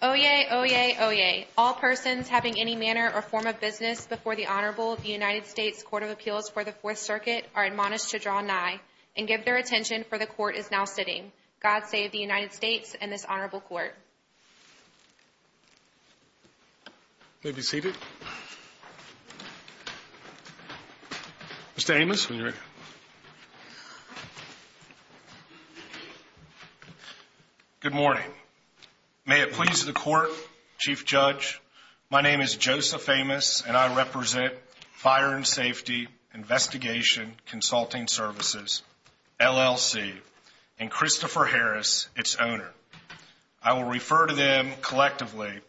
Oyez! Oyez! Oyez! All persons having any manner or form of business before the Honorable United States Court of Appeals for the Fourth Circuit are admonished to draw nigh, and give their attention, for the Court is now sitting. God save the United States and this Honorable Court. You may be seated. Mr. Amos, when you're ready. Good morning. May it please the Court, Chief Judge, my name is Joseph Amos, and I represent Fire & Safety Investigation Consulting Services, LLC, and Christopher Harris, its owner. I will refer to them, collectively,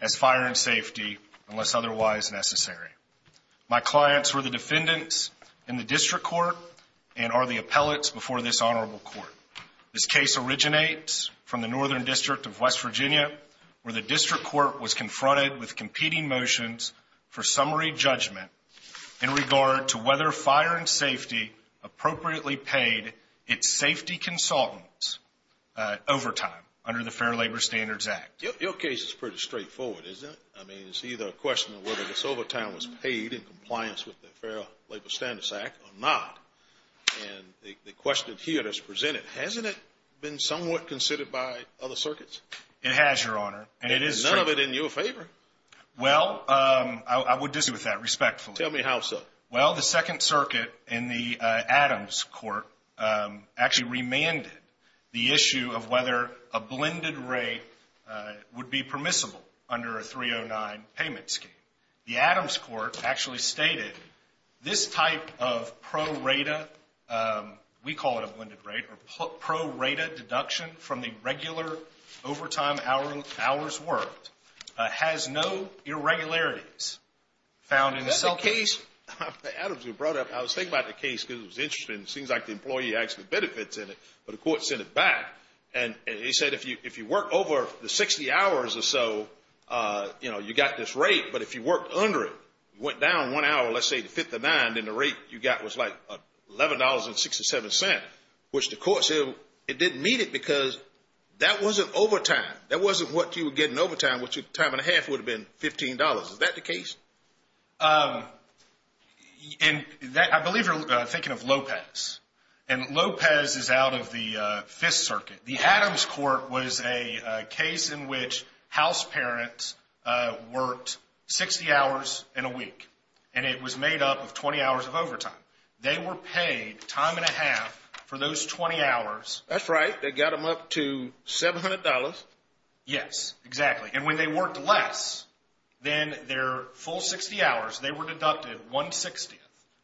as Fire & Safety, unless otherwise necessary. My clients were the defendants in the District Court, and are the appellates before this Honorable Court. This case originates from the Northern District of West Virginia, where the District Court was confronted with competing motions for summary judgment in regard to whether Fire & Safety appropriately paid its safety consultants overtime under the Fair Labor Standards Act. Your case is pretty straightforward, isn't it? I mean, it's either a question of whether this overtime was paid in compliance with the Fair Labor Standards Act, or not. And the question here that's presented, hasn't it been somewhat considered by other circuits? It has, Your Honor. And is none of it in your favor? Well, I would disagree with that, respectfully. Tell me how so. Well, the Second Circuit, in the Adams Court, actually remanded the issue of whether a blended rate would be permissible under a 309 payment scheme. The Adams Court actually stated, this type of pro rata, we call it a blended rate, or pro rata deduction from the regular overtime hours worked, has no irregularities. Is that the case? Adams was brought up. I was thinking about the case because it was interesting. It seems like the employee actually benefits in it, but the court sent it back. And they said if you work over the 60 hours or so, you know, you got this rate, but if you worked under it, went down one hour, let's say to 59, then the rate you got was like $11.67, which the court said it didn't meet it because that wasn't overtime. That wasn't what you were getting overtime, which time and a half would have been $15. Is that the case? I believe you're thinking of Lopez. And Lopez is out of the Fifth Circuit. The Adams Court was a case in which house parents worked 60 hours in a week. And it was made up of 20 hours of overtime. They were paid time and a half for those 20 hours. That's right. They got them up to $700. Yes, exactly. And when they worked less than their full 60 hours, they were deducted 160th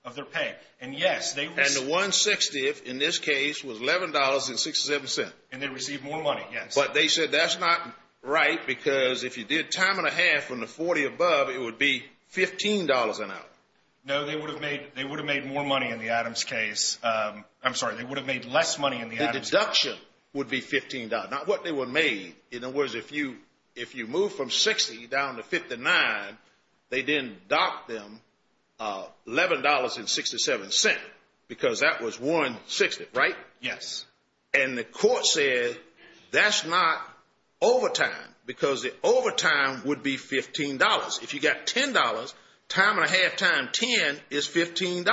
of their pay. And yes, they received... And the 160th in this case was $11.67. And they received more money, yes. But they said that's not right because if you did time and a half from the 40 above, it would be $15 an hour. No, they would have made more money in the Adams case. I'm sorry, they would have made less money in the Adams case. The deduction would be $15, not what they were made. In other words, if you move from 60 down to 59, they then docked them $11.67 because that was 160th, right? Yes. And the court said that's not overtime because the overtime would be $15. If you got $10, time and a half times 10 is $15.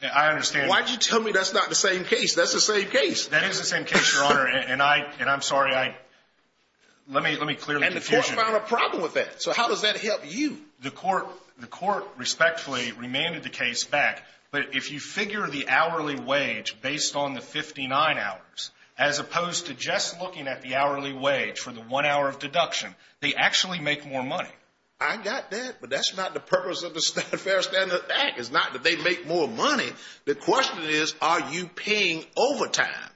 I understand. Why did you tell me that's not the same case? That's the same case. That is the same case, Your Honor, and I'm sorry. Let me clear the confusion. And the court found a problem with that. So how does that help you? The court respectfully remanded the case back, but if you figure the hourly wage based on the 59 hours as opposed to just looking at the hourly wage for the one hour of deduction, they actually make more money. I got that, but that's not the purpose of the Fair Standard Bank. It's not that they make more money. The question is, are you paying overtime?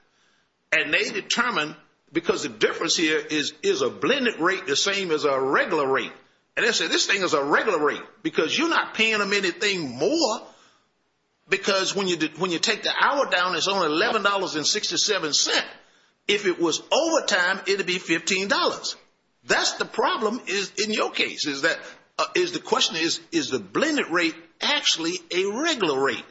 And they determined, because the difference here is, is a blended rate the same as a regular rate? And they said this thing is a regular rate because you're not paying them anything more because when you take the hour down, it's only $11.67. If it was overtime, it would be $15. That's the problem in your case. The question is, is the blended rate actually a regular rate?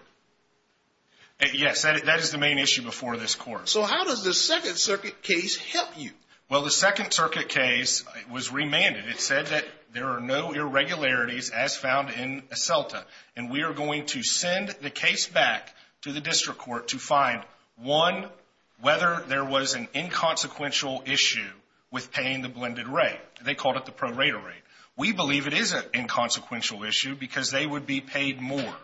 Yes, that is the main issue before this court. So how does the Second Circuit case help you? Well, the Second Circuit case was remanded. It said that there are no irregularities as found in Aselta. And we are going to send the case back to the district court to find, one, whether there was an inconsequential issue with paying the blended rate. They called it the pro rater rate. We believe it is an inconsequential issue because they would be paid more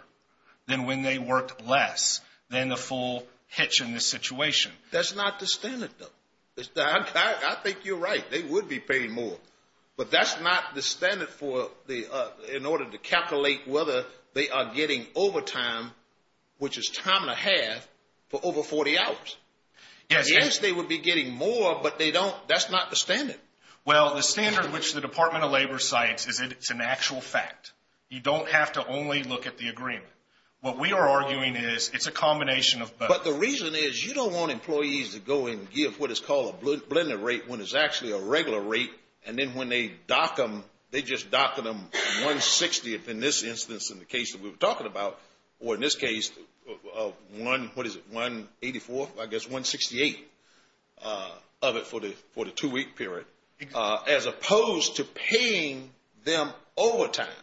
than when they worked less than the full hitch in this situation. That's not the standard, though. I think you're right. They would be paid more. But that's not the standard in order to calculate whether they are getting overtime, which is time and a half, for over 40 hours. Yes, they would be getting more, but that's not the standard. Well, the standard which the Department of Labor cites is that it's an actual fact. You don't have to only look at the agreement. What we are arguing is it's a combination of both. But the reason is you don't want employees to go and give what is called a blended rate when it's actually a regular rate, and then when they dock them, they just dock them 160th in this instance in the case that we were talking about, or in this case, what is it, 184th? I guess 168th of it for the two-week period, as opposed to paying them overtime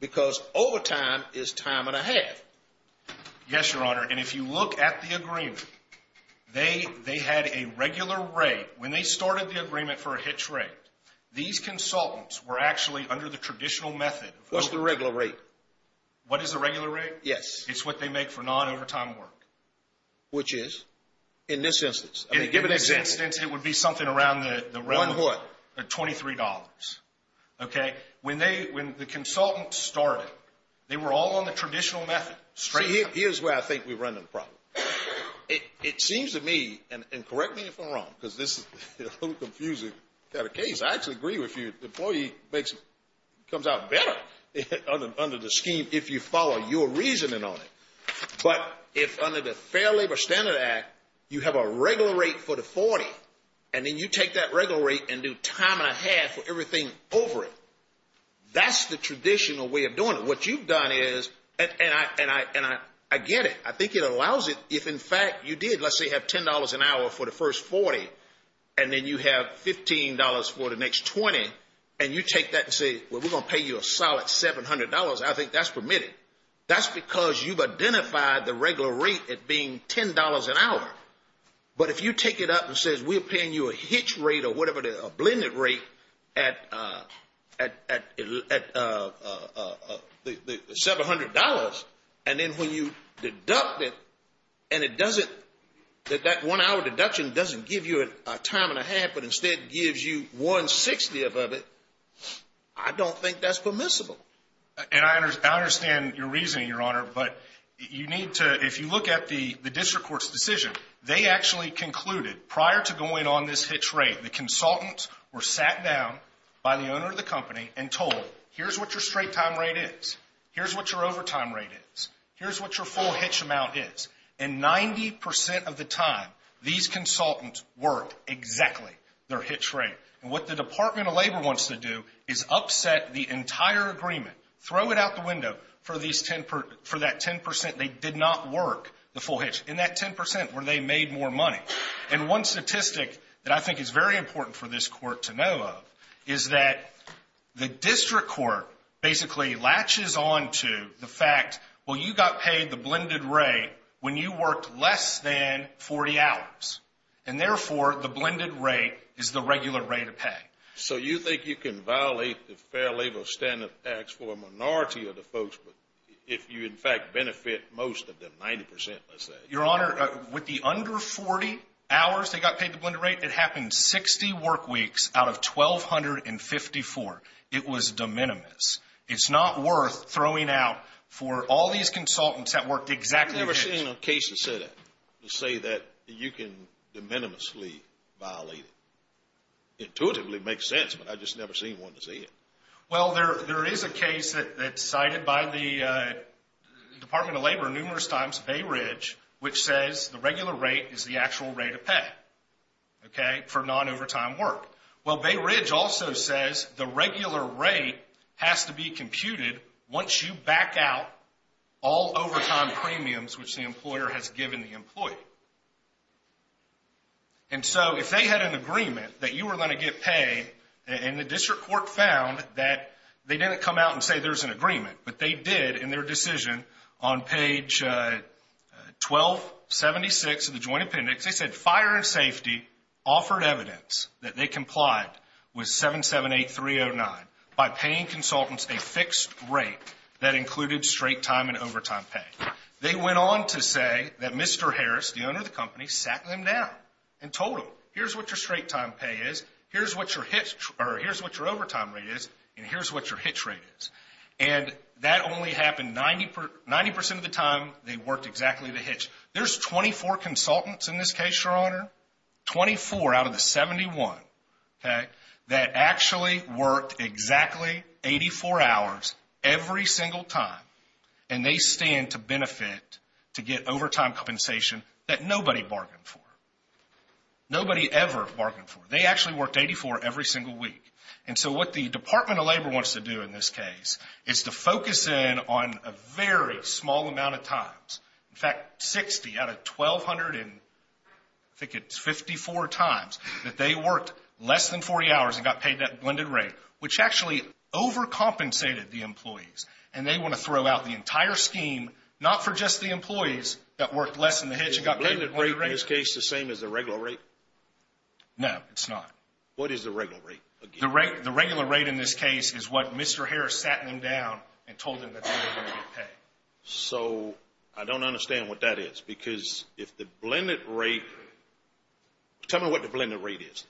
because overtime is time and a half. Yes, Your Honor. And if you look at the agreement, they had a regular rate. When they started the agreement for a hitch rate, these consultants were actually under the traditional method. What's the regular rate? What is the regular rate? Yes. It's what they make for non-overtime work. Which is? In this instance. In this instance, it would be something around the realm of $23. Okay. When the consultants started, they were all on the traditional method. Here's where I think we're running the problem. It seems to me, and correct me if I'm wrong because this is a little confusing kind of case. I actually agree with you. The employee comes out better under the scheme if you follow your reasoning on it. But if under the Fair Labor Standard Act, you have a regular rate for the 40, and then you take that regular rate and do time and a half for everything over it, that's the traditional way of doing it. What you've done is, and I get it. I think it allows it. If, in fact, you did, let's say, have $10 an hour for the first 40, and then you have $15 for the next 20, and you take that and say, well, we're going to pay you a solid $700, I think that's permitted. That's because you've identified the regular rate as being $10 an hour. But if you take it up and say, we're paying you a hitch rate or whatever, a blended rate at $700, and then when you deduct it, and it doesn't, that one-hour deduction doesn't give you a time and a half, but instead gives you one-sixtieth of it, I don't think that's permissible. And I understand your reasoning, Your Honor, but you need to, if you look at the district court's decision, they actually concluded, prior to going on this hitch rate, the consultants were sat down by the owner of the company and told, here's what your straight time rate is. Here's what your overtime rate is. Here's what your full hitch amount is. And 90% of the time, these consultants worked exactly their hitch rate. And what the Department of Labor wants to do is upset the entire agreement, throw it out the window for that 10% they did not work the full hitch, and that 10% where they made more money. And one statistic that I think is very important for this court to know of is that the district court basically latches on to the fact, well, you got paid the blended rate when you worked less than 40 hours. And therefore, the blended rate is the regular rate of pay. So you think you can violate the Fair Labor Standard Tax for a minority of the folks if you, in fact, benefit most of them, 90%, let's say? Your Honor, with the under 40 hours they got paid the blended rate, it happened 60 work weeks out of 1,254. It was de minimis. It's not worth throwing out for all these consultants that worked exactly their hitch. I've never seen a case that said that, to say that you can de minimisly violate it. Intuitively, it makes sense, but I've just never seen one that said it. Well, there is a case that's cited by the Department of Labor numerous times, Bay Ridge, which says the regular rate is the actual rate of pay for non-overtime work. Well, Bay Ridge also says the regular rate has to be computed once you back out all overtime premiums which the employer has given the employee. And so if they had an agreement that you were going to get paid and the district court found that they didn't come out and say there's an agreement, but they did in their decision on page 1276 of the Joint Appendix. They said fire and safety offered evidence that they complied with 778309 by paying consultants a fixed rate that included straight time and overtime pay. They went on to say that Mr. Harris, the owner of the company, sat them down and told them, here's what your straight time pay is, here's what your overtime rate is, and here's what your hitch rate is. And that only happened 90% of the time they worked exactly the hitch. There's 24 consultants in this case, Your Honor, 24 out of the 71 that actually worked exactly 84 hours every single time. And they stand to benefit to get overtime compensation that nobody bargained for. Nobody ever bargained for. They actually worked 84 every single week. And so what the Department of Labor wants to do in this case is to focus in on a very small amount of times. In fact, 60 out of 1,200 in I think it's 54 times that they worked less than 40 hours and got paid that blended rate, which actually overcompensated the employees. And they want to throw out the entire scheme not for just the employees that worked less than the hitch and got paid the blended rate. Is the blended rate in this case the same as the regular rate? No, it's not. What is the regular rate? The regular rate in this case is what Mr. Harris sat them down and told them that they were going to get paid. So I don't understand what that is because if the blended rate – tell me what the blended rate is.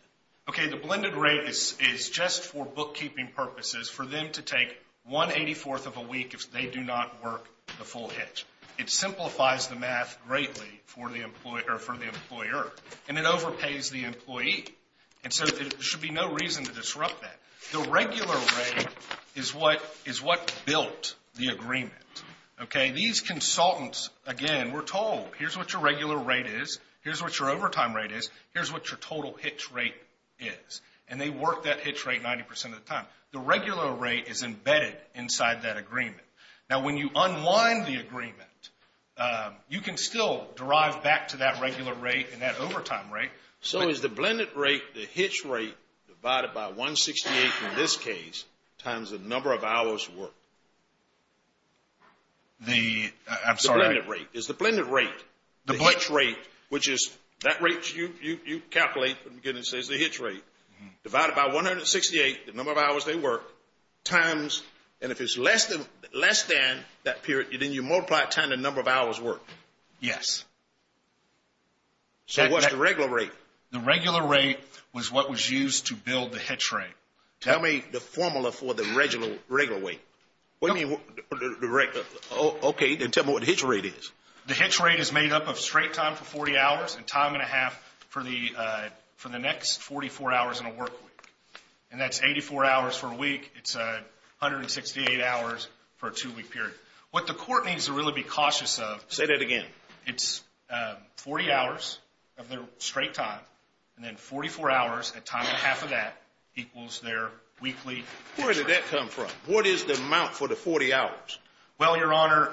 Okay, the blended rate is just for bookkeeping purposes for them to take 1 84th of a week if they do not work the full hitch. It simplifies the math greatly for the employer and it overpays the employee. And so there should be no reason to disrupt that. The regular rate is what built the agreement. Okay, these consultants, again, were told, here's what your regular rate is, here's what your overtime rate is, here's what your total hitch rate is, and they work that hitch rate 90% of the time. The regular rate is embedded inside that agreement. Now, when you unwind the agreement, you can still drive back to that regular rate and that overtime rate. So is the blended rate, the hitch rate, divided by 168 in this case times the number of hours worked? The – I'm sorry. It's the blended rate. It's the blended rate. The hitch rate, which is that rate you calculate, again, it says the hitch rate, divided by 168, the number of hours they work, times – and if it's less than that period, then you multiply it times the number of hours worked. Yes. So what's the regular rate? The regular rate was what was used to build the hitch rate. Tell me the formula for the regular rate. What do you mean the regular? Okay. Then tell me what the hitch rate is. The hitch rate is made up of straight time for 40 hours and time and a half for the next 44 hours in a work week. And that's 84 hours for a week. It's 168 hours for a two-week period. What the court needs to really be cautious of – Say that again. It's 40 hours of their straight time, and then 44 hours at time and a half of that equals their weekly – Where did that come from? What is the amount for the 40 hours? Well, Your Honor,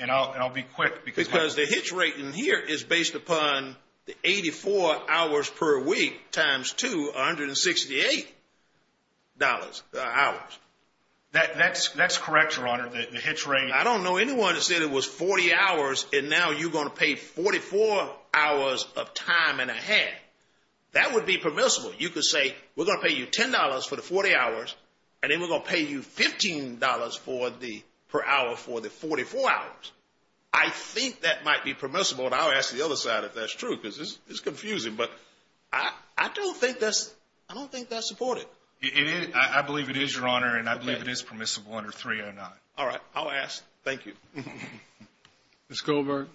and I'll be quick because – Because the hitch rate in here is based upon the 84 hours per week times 268 hours. That's correct, Your Honor. The hitch rate – I don't know anyone that said it was 40 hours, and now you're going to pay 44 hours of time and a half. That would be permissible. You could say we're going to pay you $10 for the 40 hours, and then we're going to pay you $15 per hour for the 44 hours. I think that might be permissible, and I'll ask the other side if that's true because it's confusing. But I don't think that's supported. I believe it is, Your Honor, and I believe it is permissible under 309. All right. I'll ask. Thank you. Ms. Goldberg.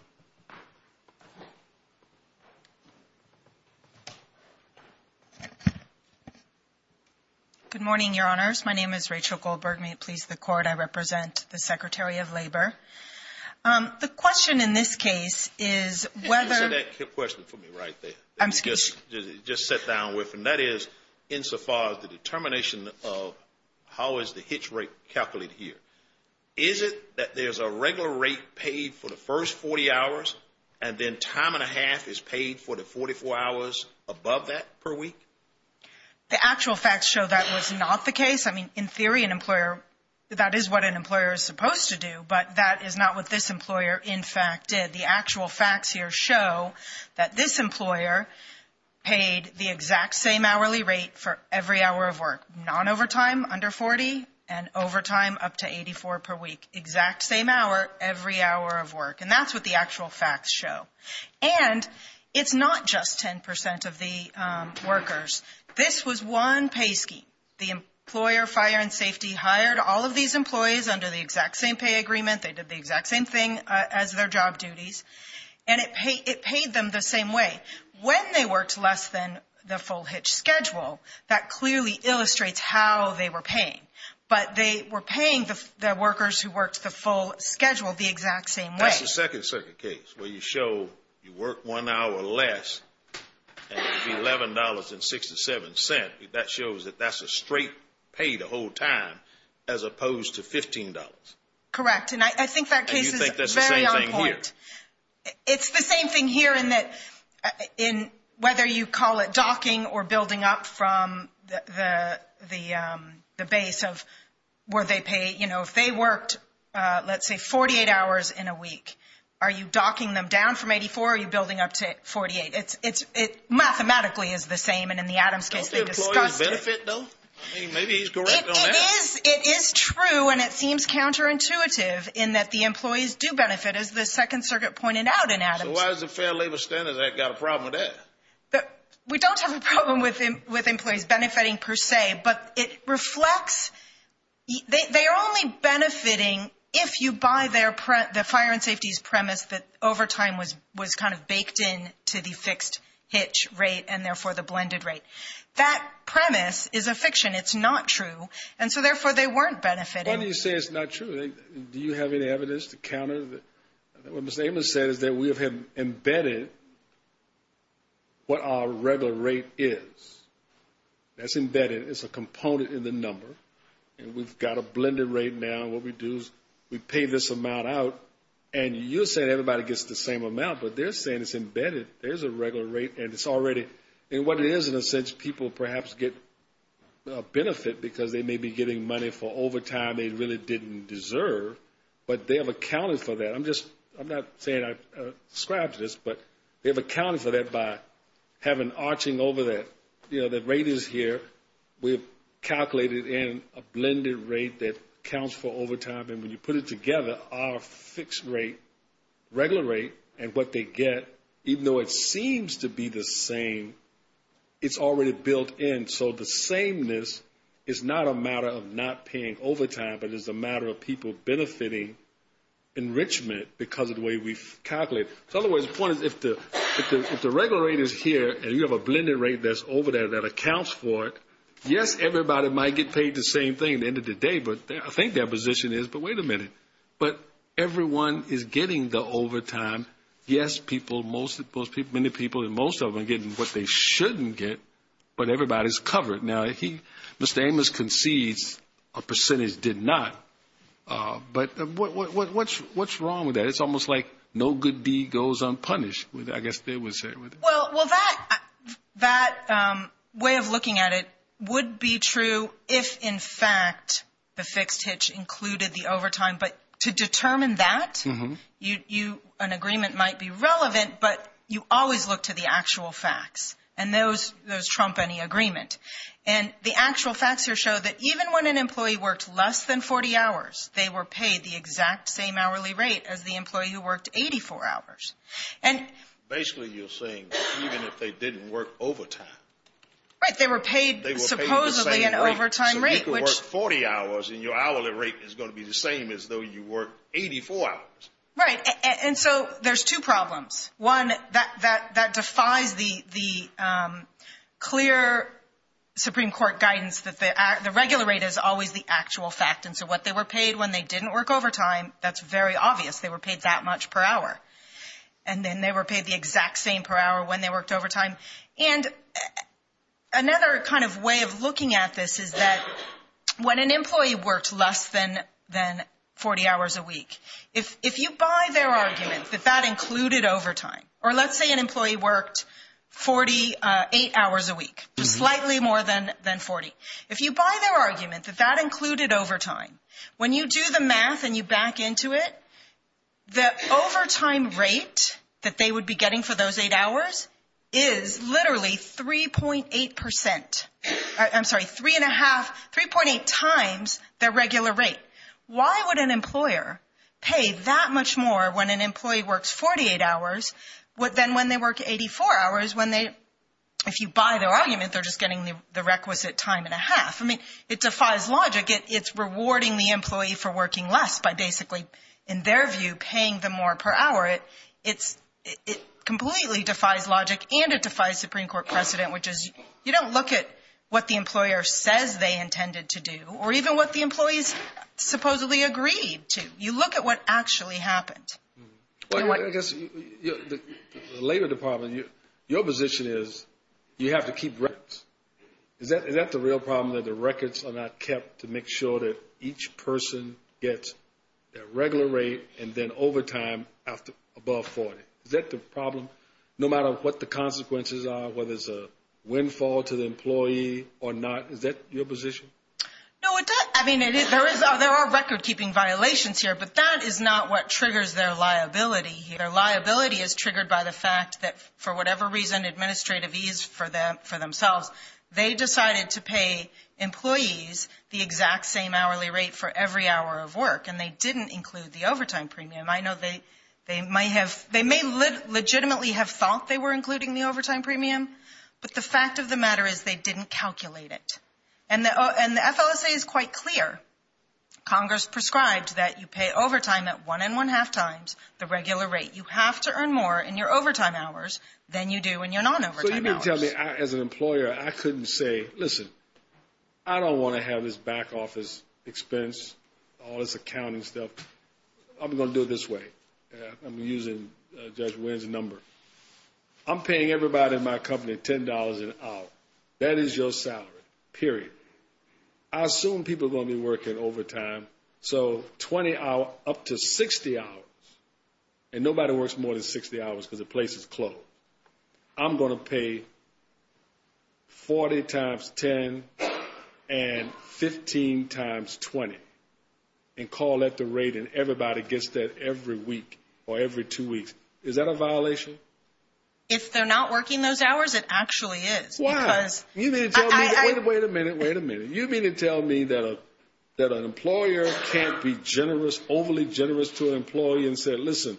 Good morning, Your Honors. My name is Rachel Goldberg. May it please the Court, I represent the Secretary of Labor. The question in this case is whether – You said that question for me right there that you just sat down with, and that is insofar as the determination of how is the hitch rate calculated here. Is it that there's a regular rate paid for the first 40 hours, and then time and a half is paid for the 44 hours above that per week? The actual facts show that was not the case. I mean, in theory, that is what an employer is supposed to do, but that is not what this employer, in fact, did. The actual facts here show that this employer paid the exact same hourly rate for every hour of work, non-overtime under 40 and overtime up to 84 per week. Exact same hour every hour of work, and that's what the actual facts show. And it's not just 10 percent of the workers. This was one pay scheme. The employer fire and safety hired all of these employees under the exact same pay agreement. They did the exact same thing as their job duties, and it paid them the same way. When they worked less than the full hitch schedule, that clearly illustrates how they were paying, but they were paying the workers who worked the full schedule the exact same way. That's the second circuit case where you show you work one hour less and it's $11.67. That shows that that's a straight pay the whole time as opposed to $15. Correct, and I think that case is very on point. And you think that's the same thing here? Whether you call it docking or building up from the base of where they pay, if they worked, let's say, 48 hours in a week, are you docking them down from 84 or are you building up to 48? It mathematically is the same, and in the Adams case they discussed it. Don't the employees benefit, though? Maybe he's correct on that. It is true, and it seems counterintuitive in that the employees do benefit, as the second circuit pointed out in Adams. So why has the Fair Labor Standards Act got a problem with that? We don't have a problem with employees benefiting per se, but it reflects they are only benefiting if you buy the fire and safety's premise that overtime was kind of baked in to the fixed hitch rate and, therefore, the blended rate. That premise is a fiction. It's not true, and so, therefore, they weren't benefiting. Why do you say it's not true? Do you have any evidence to counter that? What Mr. Amos said is that we have embedded what our regular rate is. That's embedded. It's a component in the number, and we've got a blended rate now. What we do is we pay this amount out, and you're saying everybody gets the same amount, but they're saying it's embedded. There's a regular rate, and it's already, and what it is, in a sense, people perhaps get a benefit because they may be getting money for overtime they really didn't deserve, but they have accounted for that. I'm not saying I've described this, but they've accounted for that by having arching over that. The rate is here. We've calculated in a blended rate that counts for overtime, and when you put it together, our fixed rate, regular rate, and what they get, even though it seems to be the same, it's already built in. So the sameness is not a matter of not paying overtime, but it's a matter of people benefiting enrichment because of the way we've calculated. So in other words, the point is if the regular rate is here and you have a blended rate that's over there that accounts for it, yes, everybody might get paid the same thing at the end of the day, but I think their position is, but wait a minute. But everyone is getting the overtime. Yes, people, many people, most of them are getting what they shouldn't get, but everybody's covered. Now, Mr. Amos concedes a percentage did not, but what's wrong with that? It's almost like no good deed goes unpunished, I guess they would say. Well, that way of looking at it would be true if, in fact, the fixed hitch included the overtime, but to determine that, an agreement might be relevant, but you always look to the actual facts, and those trump any agreement. And the actual facts here show that even when an employee worked less than 40 hours, they were paid the exact same hourly rate as the employee who worked 84 hours. Basically, you're saying even if they didn't work overtime. Right, they were paid supposedly an overtime rate. And your hourly rate is going to be the same as though you worked 84 hours. Right, and so there's two problems. One, that defies the clear Supreme Court guidance that the regular rate is always the actual fact, and so what they were paid when they didn't work overtime, that's very obvious. They were paid that much per hour, and then they were paid the exact same per hour when they worked overtime. And another kind of way of looking at this is that when an employee worked less than 40 hours a week, if you buy their argument that that included overtime, or let's say an employee worked 48 hours a week, slightly more than 40, if you buy their argument that that included overtime, when you do the math and you back into it, the overtime rate that they would be getting for those eight hours is literally 3.8 percent. I'm sorry, three and a half, 3.8 times their regular rate. Why would an employer pay that much more when an employee works 48 hours than when they work 84 hours when they, if you buy their argument, they're just getting the requisite time and a half. I mean, it defies logic. It's rewarding the employee for working less by basically, in their view, paying them more per hour. It completely defies logic, and it defies Supreme Court precedent, which is you don't look at what the employer says they intended to do or even what the employees supposedly agreed to. You look at what actually happened. Well, I guess the Labor Department, your position is you have to keep records. Is that the real problem, that the records are not kept to make sure that each person gets their regular rate and then overtime above 40? Is that the problem, no matter what the consequences are, whether it's a windfall to the employee or not? Is that your position? No, I mean, there are record-keeping violations here, but that is not what triggers their liability here. Their liability is triggered by the fact that, for whatever reason, administrative ease for themselves, they decided to pay employees the exact same hourly rate for every hour of work, and they didn't include the overtime premium. I know they may legitimately have thought they were including the overtime premium, but the fact of the matter is they didn't calculate it, and the FLSA is quite clear. Congress prescribed that you pay overtime at one and one-half times the regular rate. You have to earn more in your overtime hours than you do in your non-overtime hours. So you mean to tell me, as an employer, I couldn't say, listen, I don't want to have this back office expense, all this accounting stuff. I'm going to do it this way. I'm using Judge Wynn's number. I'm paying everybody in my company $10 an hour. That is your salary, period. I assume people are going to be working overtime, so up to 60 hours, and nobody works more than 60 hours because the place is closed. I'm going to pay 40 times 10 and 15 times 20 and call that the rate, and everybody gets that every week or every two weeks. Is that a violation? If they're not working those hours, it actually is. Why? Wait a minute. Wait a minute. You mean to tell me that an employer can't be generous, overly generous to an employee and say, listen,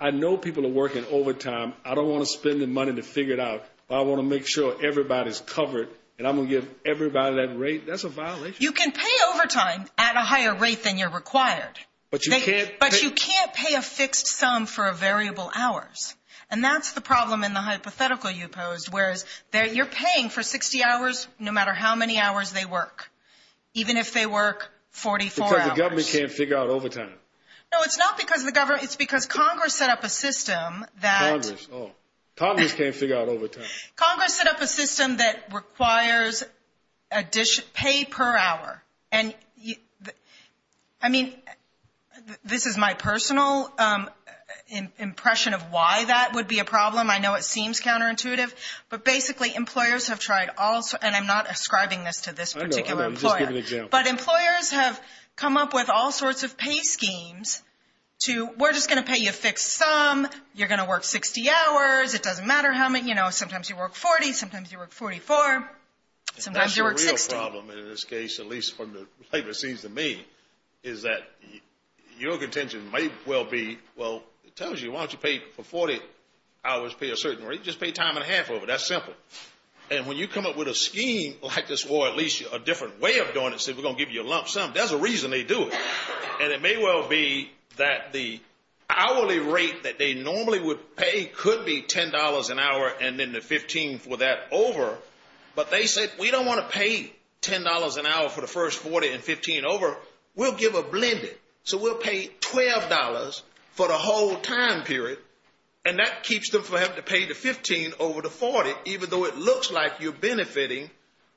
I know people are working overtime. I don't want to spend the money to figure it out, but I want to make sure everybody's covered, and I'm going to give everybody that rate. That's a violation. You can pay overtime at a higher rate than you're required, but you can't pay a fixed sum for a variable hours, and that's the problem in the hypothetical you posed, whereas you're paying for 60 hours no matter how many hours they work, even if they work 44 hours. Because the government can't figure out overtime. No, it's not because of the government. It's because Congress set up a system that – Congress, oh. Congress can't figure out overtime. Congress set up a system that requires pay per hour. And, I mean, this is my personal impression of why that would be a problem. I know it seems counterintuitive, but basically employers have tried all – and I'm not ascribing this to this particular employer. I know. I'm just giving an example. But employers have come up with all sorts of pay schemes to, we're just going to pay you a fixed sum, you're going to work 60 hours, it doesn't matter how many – you know, sometimes you work 40, sometimes you work 44, sometimes you work 60. The problem in this case, at least from the labor scenes to me, is that your contention may well be, well, it tells you, why don't you pay for 40 hours, pay a certain rate, just pay time and a half over. That's simple. And when you come up with a scheme like this, or at least a different way of doing it, say we're going to give you a lump sum, there's a reason they do it. And it may well be that the hourly rate that they normally would pay could be $10 an hour and then the 15 for that over. But they say, we don't want to pay $10 an hour for the first 40 and 15 over, we'll give a blended. So we'll pay $12 for the whole time period, and that keeps them from having to pay the 15 over the 40, even though it looks like you're benefiting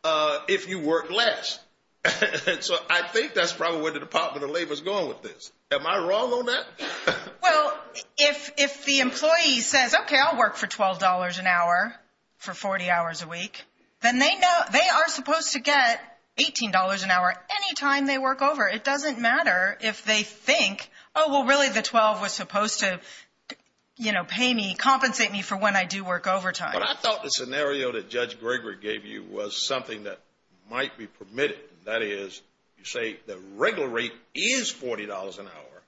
if you work less. So I think that's probably where the Department of Labor is going with this. Am I wrong on that? Well, if the employee says, okay, I'll work for $12 an hour for 40 hours a week, then they are supposed to get $18 an hour any time they work over. It doesn't matter if they think, oh, well, really the 12 was supposed to, you know, pay me, compensate me for when I do work overtime. But I thought the scenario that Judge Gregory gave you was something that might be permitted. That is, you say the regular rate is $40 an hour,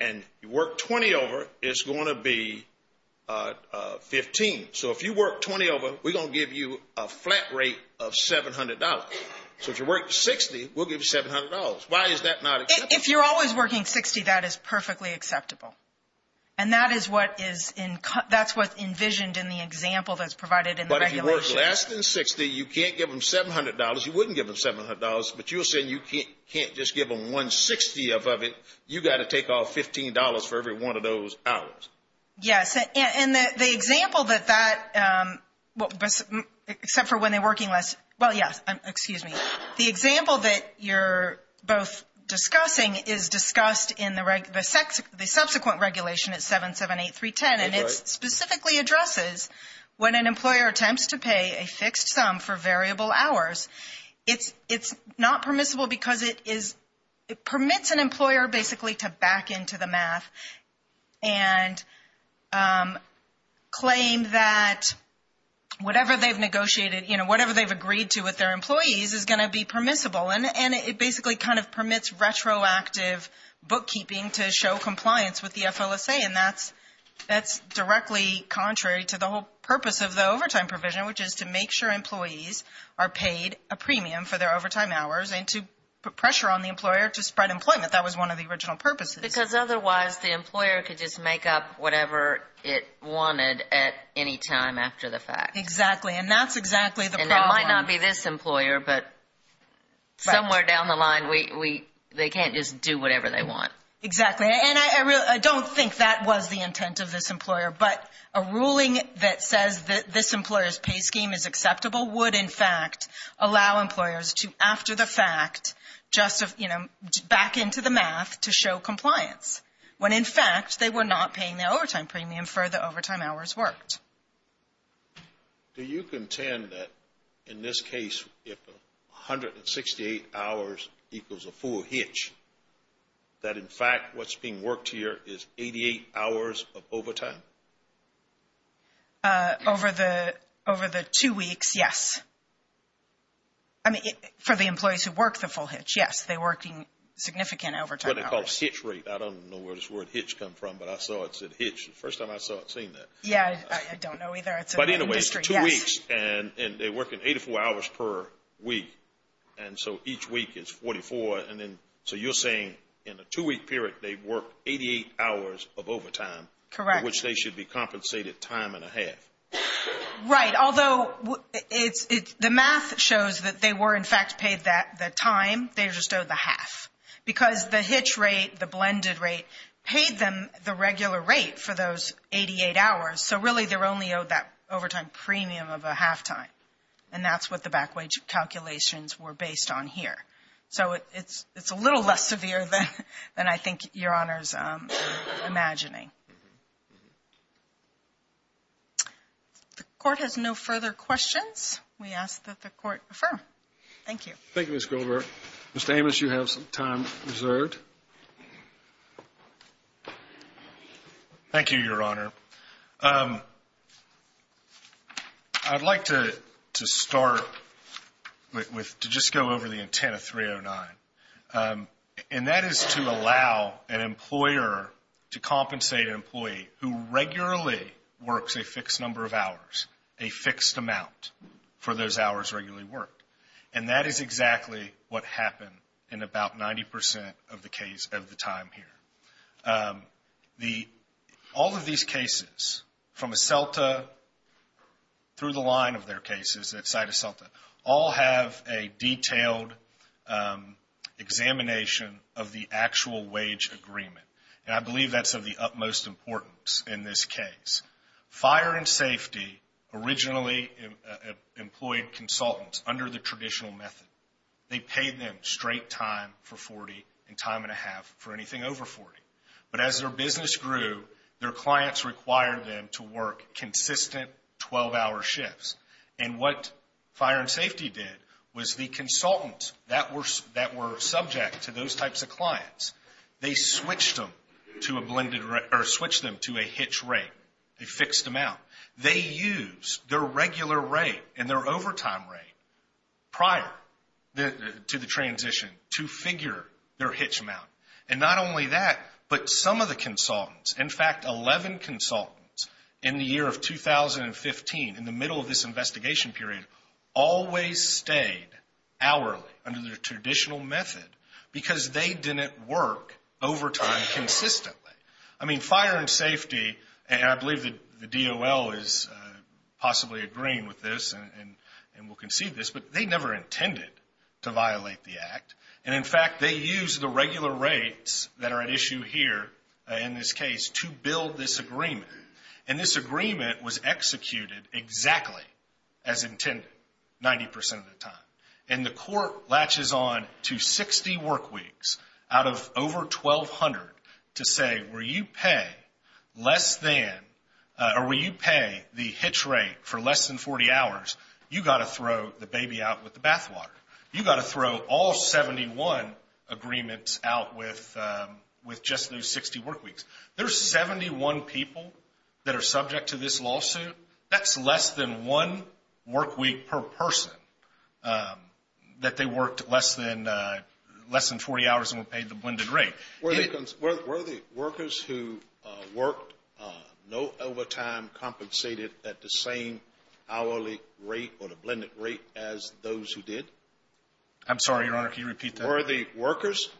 and you work 20 over, it's going to be 15. So if you work 20 over, we're going to give you a flat rate of $700. So if you work 60, we'll give you $700. Why is that not acceptable? If you're always working 60, that is perfectly acceptable. And that is what's envisioned in the example that's provided in the regulations. If you work less than 60, you can't give them $700. You wouldn't give them $700, but you're saying you can't just give them one 60th of it. You've got to take off $15 for every one of those hours. Yes, and the example that that, except for when they're working less. Well, yes, excuse me. The example that you're both discussing is discussed in the subsequent regulation at 778310, and it specifically addresses when an employer attempts to pay a fixed sum for variable hours, it's not permissible because it permits an employer basically to back into the math and claim that whatever they've negotiated, whatever they've agreed to with their employees is going to be permissible. And it basically kind of permits retroactive bookkeeping to show compliance with the FLSA, and that's directly contrary to the whole purpose of the overtime provision, which is to make sure employees are paid a premium for their overtime hours and to put pressure on the employer to spread employment. That was one of the original purposes. Because otherwise the employer could just make up whatever it wanted at any time after the fact. Exactly, and that's exactly the problem. And it might not be this employer, but somewhere down the line they can't just do whatever they want. Exactly. And I don't think that was the intent of this employer, but a ruling that says that this employer's pay scheme is acceptable would, in fact, allow employers to, after the fact, back into the math to show compliance, when, in fact, they were not paying the overtime premium for the overtime hours worked. Do you contend that, in this case, if 168 hours equals a full hitch, that, in fact, what's being worked here is 88 hours of overtime? Over the two weeks, yes. I mean, for the employees who work the full hitch, yes, they're working significant overtime hours. What they call hitch rate. I don't know where this word hitch comes from, but I saw it said hitch the first time I saw it saying that. Yeah, I don't know either. But, in a way, it's two weeks, and they're working 84 hours per week, and so each week is 44. So you're saying in a two-week period they work 88 hours of overtime. Correct. Which they should be compensated time and a half. Right, although the math shows that they were, in fact, paid the time, they just owed the half. Because the hitch rate, the blended rate, paid them the regular rate for those 88 hours, so really they're only owed that overtime premium of a half time. And that's what the back wage calculations were based on here. So it's a little less severe than I think Your Honor's imagining. The Court has no further questions. We ask that the Court affirm. Thank you. Thank you, Ms. Gilbert. Mr. Amos, you have some time reserved. Thank you, Your Honor. I'd like to start with, to just go over the intent of 309, and that is to allow an employer to compensate an employee who regularly works a fixed number of hours, a fixed amount for those hours regularly worked. And that is exactly what happened in about 90% of the case of the time here. All of these cases, from Asselta through the line of their cases at Site Asselta, all have a detailed examination of the actual wage agreement. And I believe that's of the utmost importance in this case. Fire and Safety originally employed consultants under the traditional method. They paid them straight time for 40 and time and a half for anything over 40. But as their business grew, their clients required them to work consistent 12-hour shifts. And what Fire and Safety did was the consultants that were subject to those types of clients, they switched them to a blended rate or switched them to a hitch rate, a fixed amount. They used their regular rate and their overtime rate prior to the transition to figure their hitch amount. And not only that, but some of the consultants, in fact, 11 consultants in the year of 2015, in the middle of this investigation period, always stayed hourly under the traditional method because they didn't work overtime consistently. I mean, Fire and Safety, and I believe the DOL is possibly agreeing with this and will concede this, but they never intended to violate the Act. And, in fact, they used the regular rates that are at issue here in this case to build this agreement. And this agreement was executed exactly as intended, 90% of the time. And the court latches on to 60 work weeks out of over 1,200 to say, where you pay less than or where you pay the hitch rate for less than 40 hours, you've got to throw the baby out with the bathwater. You've got to throw all 71 agreements out with just those 60 work weeks. There are 71 people that are subject to this lawsuit. That's less than one work week per person that they worked less than 40 hours and were paid the blended rate. Were the workers who worked no overtime compensated at the same hourly rate or the blended rate as those who did? I'm sorry, Your Honor, can you repeat that? Were the workers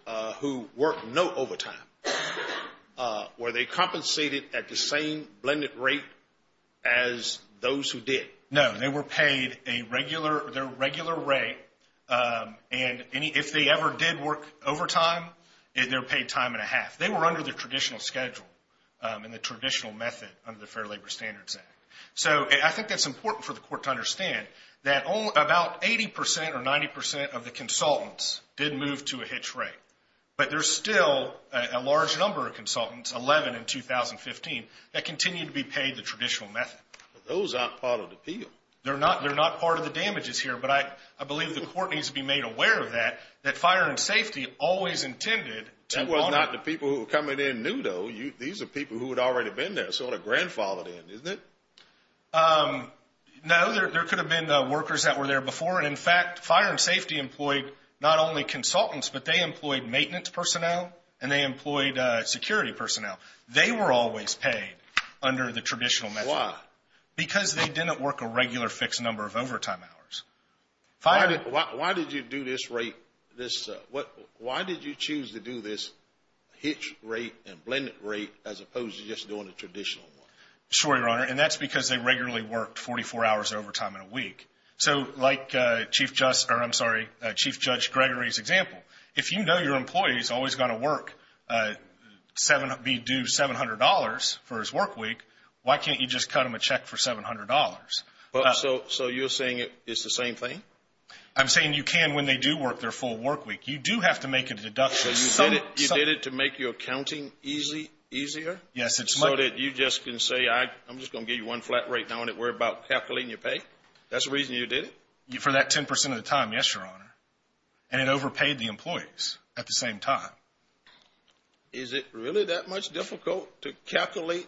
who worked no overtime, were they compensated at the same blended rate as those who did? No. They were paid their regular rate, and if they ever did work overtime, they were paid time and a half. They were under the traditional schedule and the traditional method under the Fair Labor Standards Act. So I think that's important for the court to understand that about 80% or 90% of the consultants did move to a hitch rate, but there's still a large number of consultants, 11 in 2015, that continue to be paid the traditional method. Those aren't part of the appeal. They're not part of the damages here, but I believe the court needs to be made aware of that, that fire and safety always intended to honor. That was not the people who were coming in new, though. These are people who had already been there, sort of grandfathered in, isn't it? No, there could have been workers that were there before, and, in fact, fire and safety employed not only consultants, but they employed maintenance personnel and they employed security personnel. They were always paid under the traditional method. Why? Because they didn't work a regular fixed number of overtime hours. Why did you choose to do this hitch rate and blended rate as opposed to just doing the traditional one? Sure, Your Honor, and that's because they regularly worked 44 hours of overtime in a week. So like Chief Judge Gregory's example, if you know your employee is always going to be due $700 for his work week, why can't you just cut him a check for $700? So you're saying it's the same thing? I'm saying you can when they do work their full work week. You do have to make a deduction. So you did it to make your accounting easier so that you just can say, I'm just going to give you one flat rate and not worry about calculating your pay? That's the reason you did it? For that 10 percent of the time, yes, Your Honor, and it overpaid the employees at the same time. Is it really that much difficult to calculate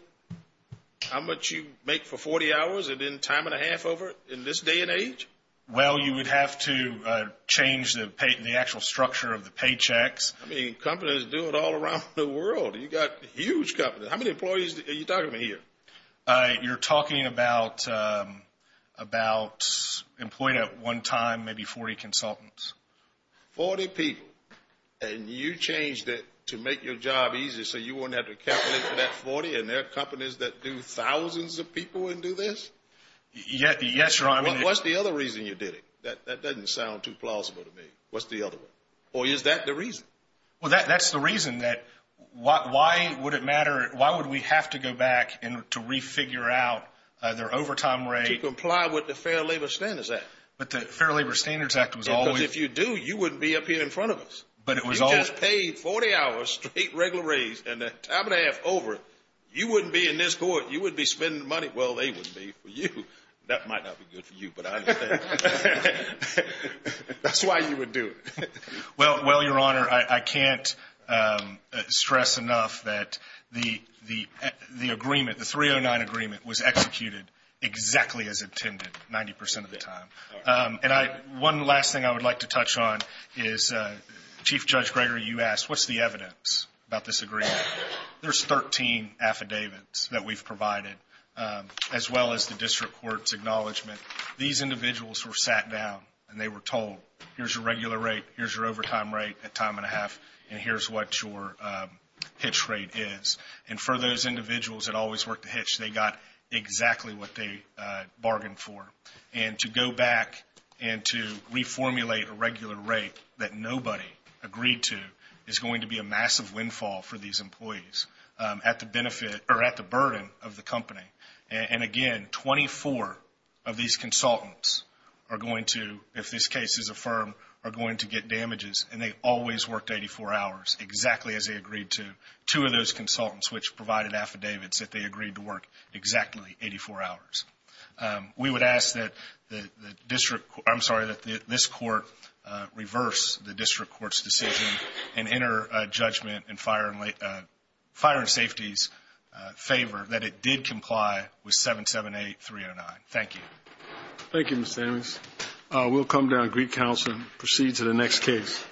how much you make for 40 hours and then time and a half over in this day and age? Well, you would have to change the actual structure of the paychecks. I mean, companies do it all around the world. You've got huge companies. How many employees are you talking about here? You're talking about employees at one time, maybe 40 consultants. Forty people, and you changed it to make your job easier so you wouldn't have to calculate for that 40, and there are companies that do thousands of people and do this? Yes, Your Honor. What's the other reason you did it? That doesn't sound too plausible to me. What's the other one? Or is that the reason? Well, that's the reason that why would we have to go back to re-figure out their overtime rate? To comply with the Fair Labor Standards Act. But the Fair Labor Standards Act was always – Because if you do, you wouldn't be up here in front of us. But it was always – You just paid 40 hours straight regular raise and then time and a half over it. You wouldn't be in this court. You wouldn't be spending the money. Well, they wouldn't be for you. That might not be good for you, but I understand. That's why you would do it. Well, Your Honor, I can't stress enough that the agreement, the 309 agreement, was executed exactly as intended 90 percent of the time. And one last thing I would like to touch on is Chief Judge Greger, you asked, what's the evidence about this agreement? There's 13 affidavits that we've provided as well as the district court's acknowledgement. These individuals were sat down and they were told, here's your regular rate, here's your overtime rate at time and a half, and here's what your hitch rate is. And for those individuals that always worked the hitch, they got exactly what they bargained for. And to go back and to reformulate a regular rate that nobody agreed to is going to be a massive windfall for these employees at the benefit – or at the burden of the company. And, again, 24 of these consultants are going to, if this case is affirmed, are going to get damages, and they always worked 84 hours exactly as they agreed to. Two of those consultants which provided affidavits said they agreed to work exactly 84 hours. We would ask that the district – I'm sorry, that this court reverse the district court's decision and enter judgment in Fire and Safety's favor that it did comply with 778-309. Thank you. Thank you, Mr. Ames. We'll come down to Greek Council and proceed to the next case.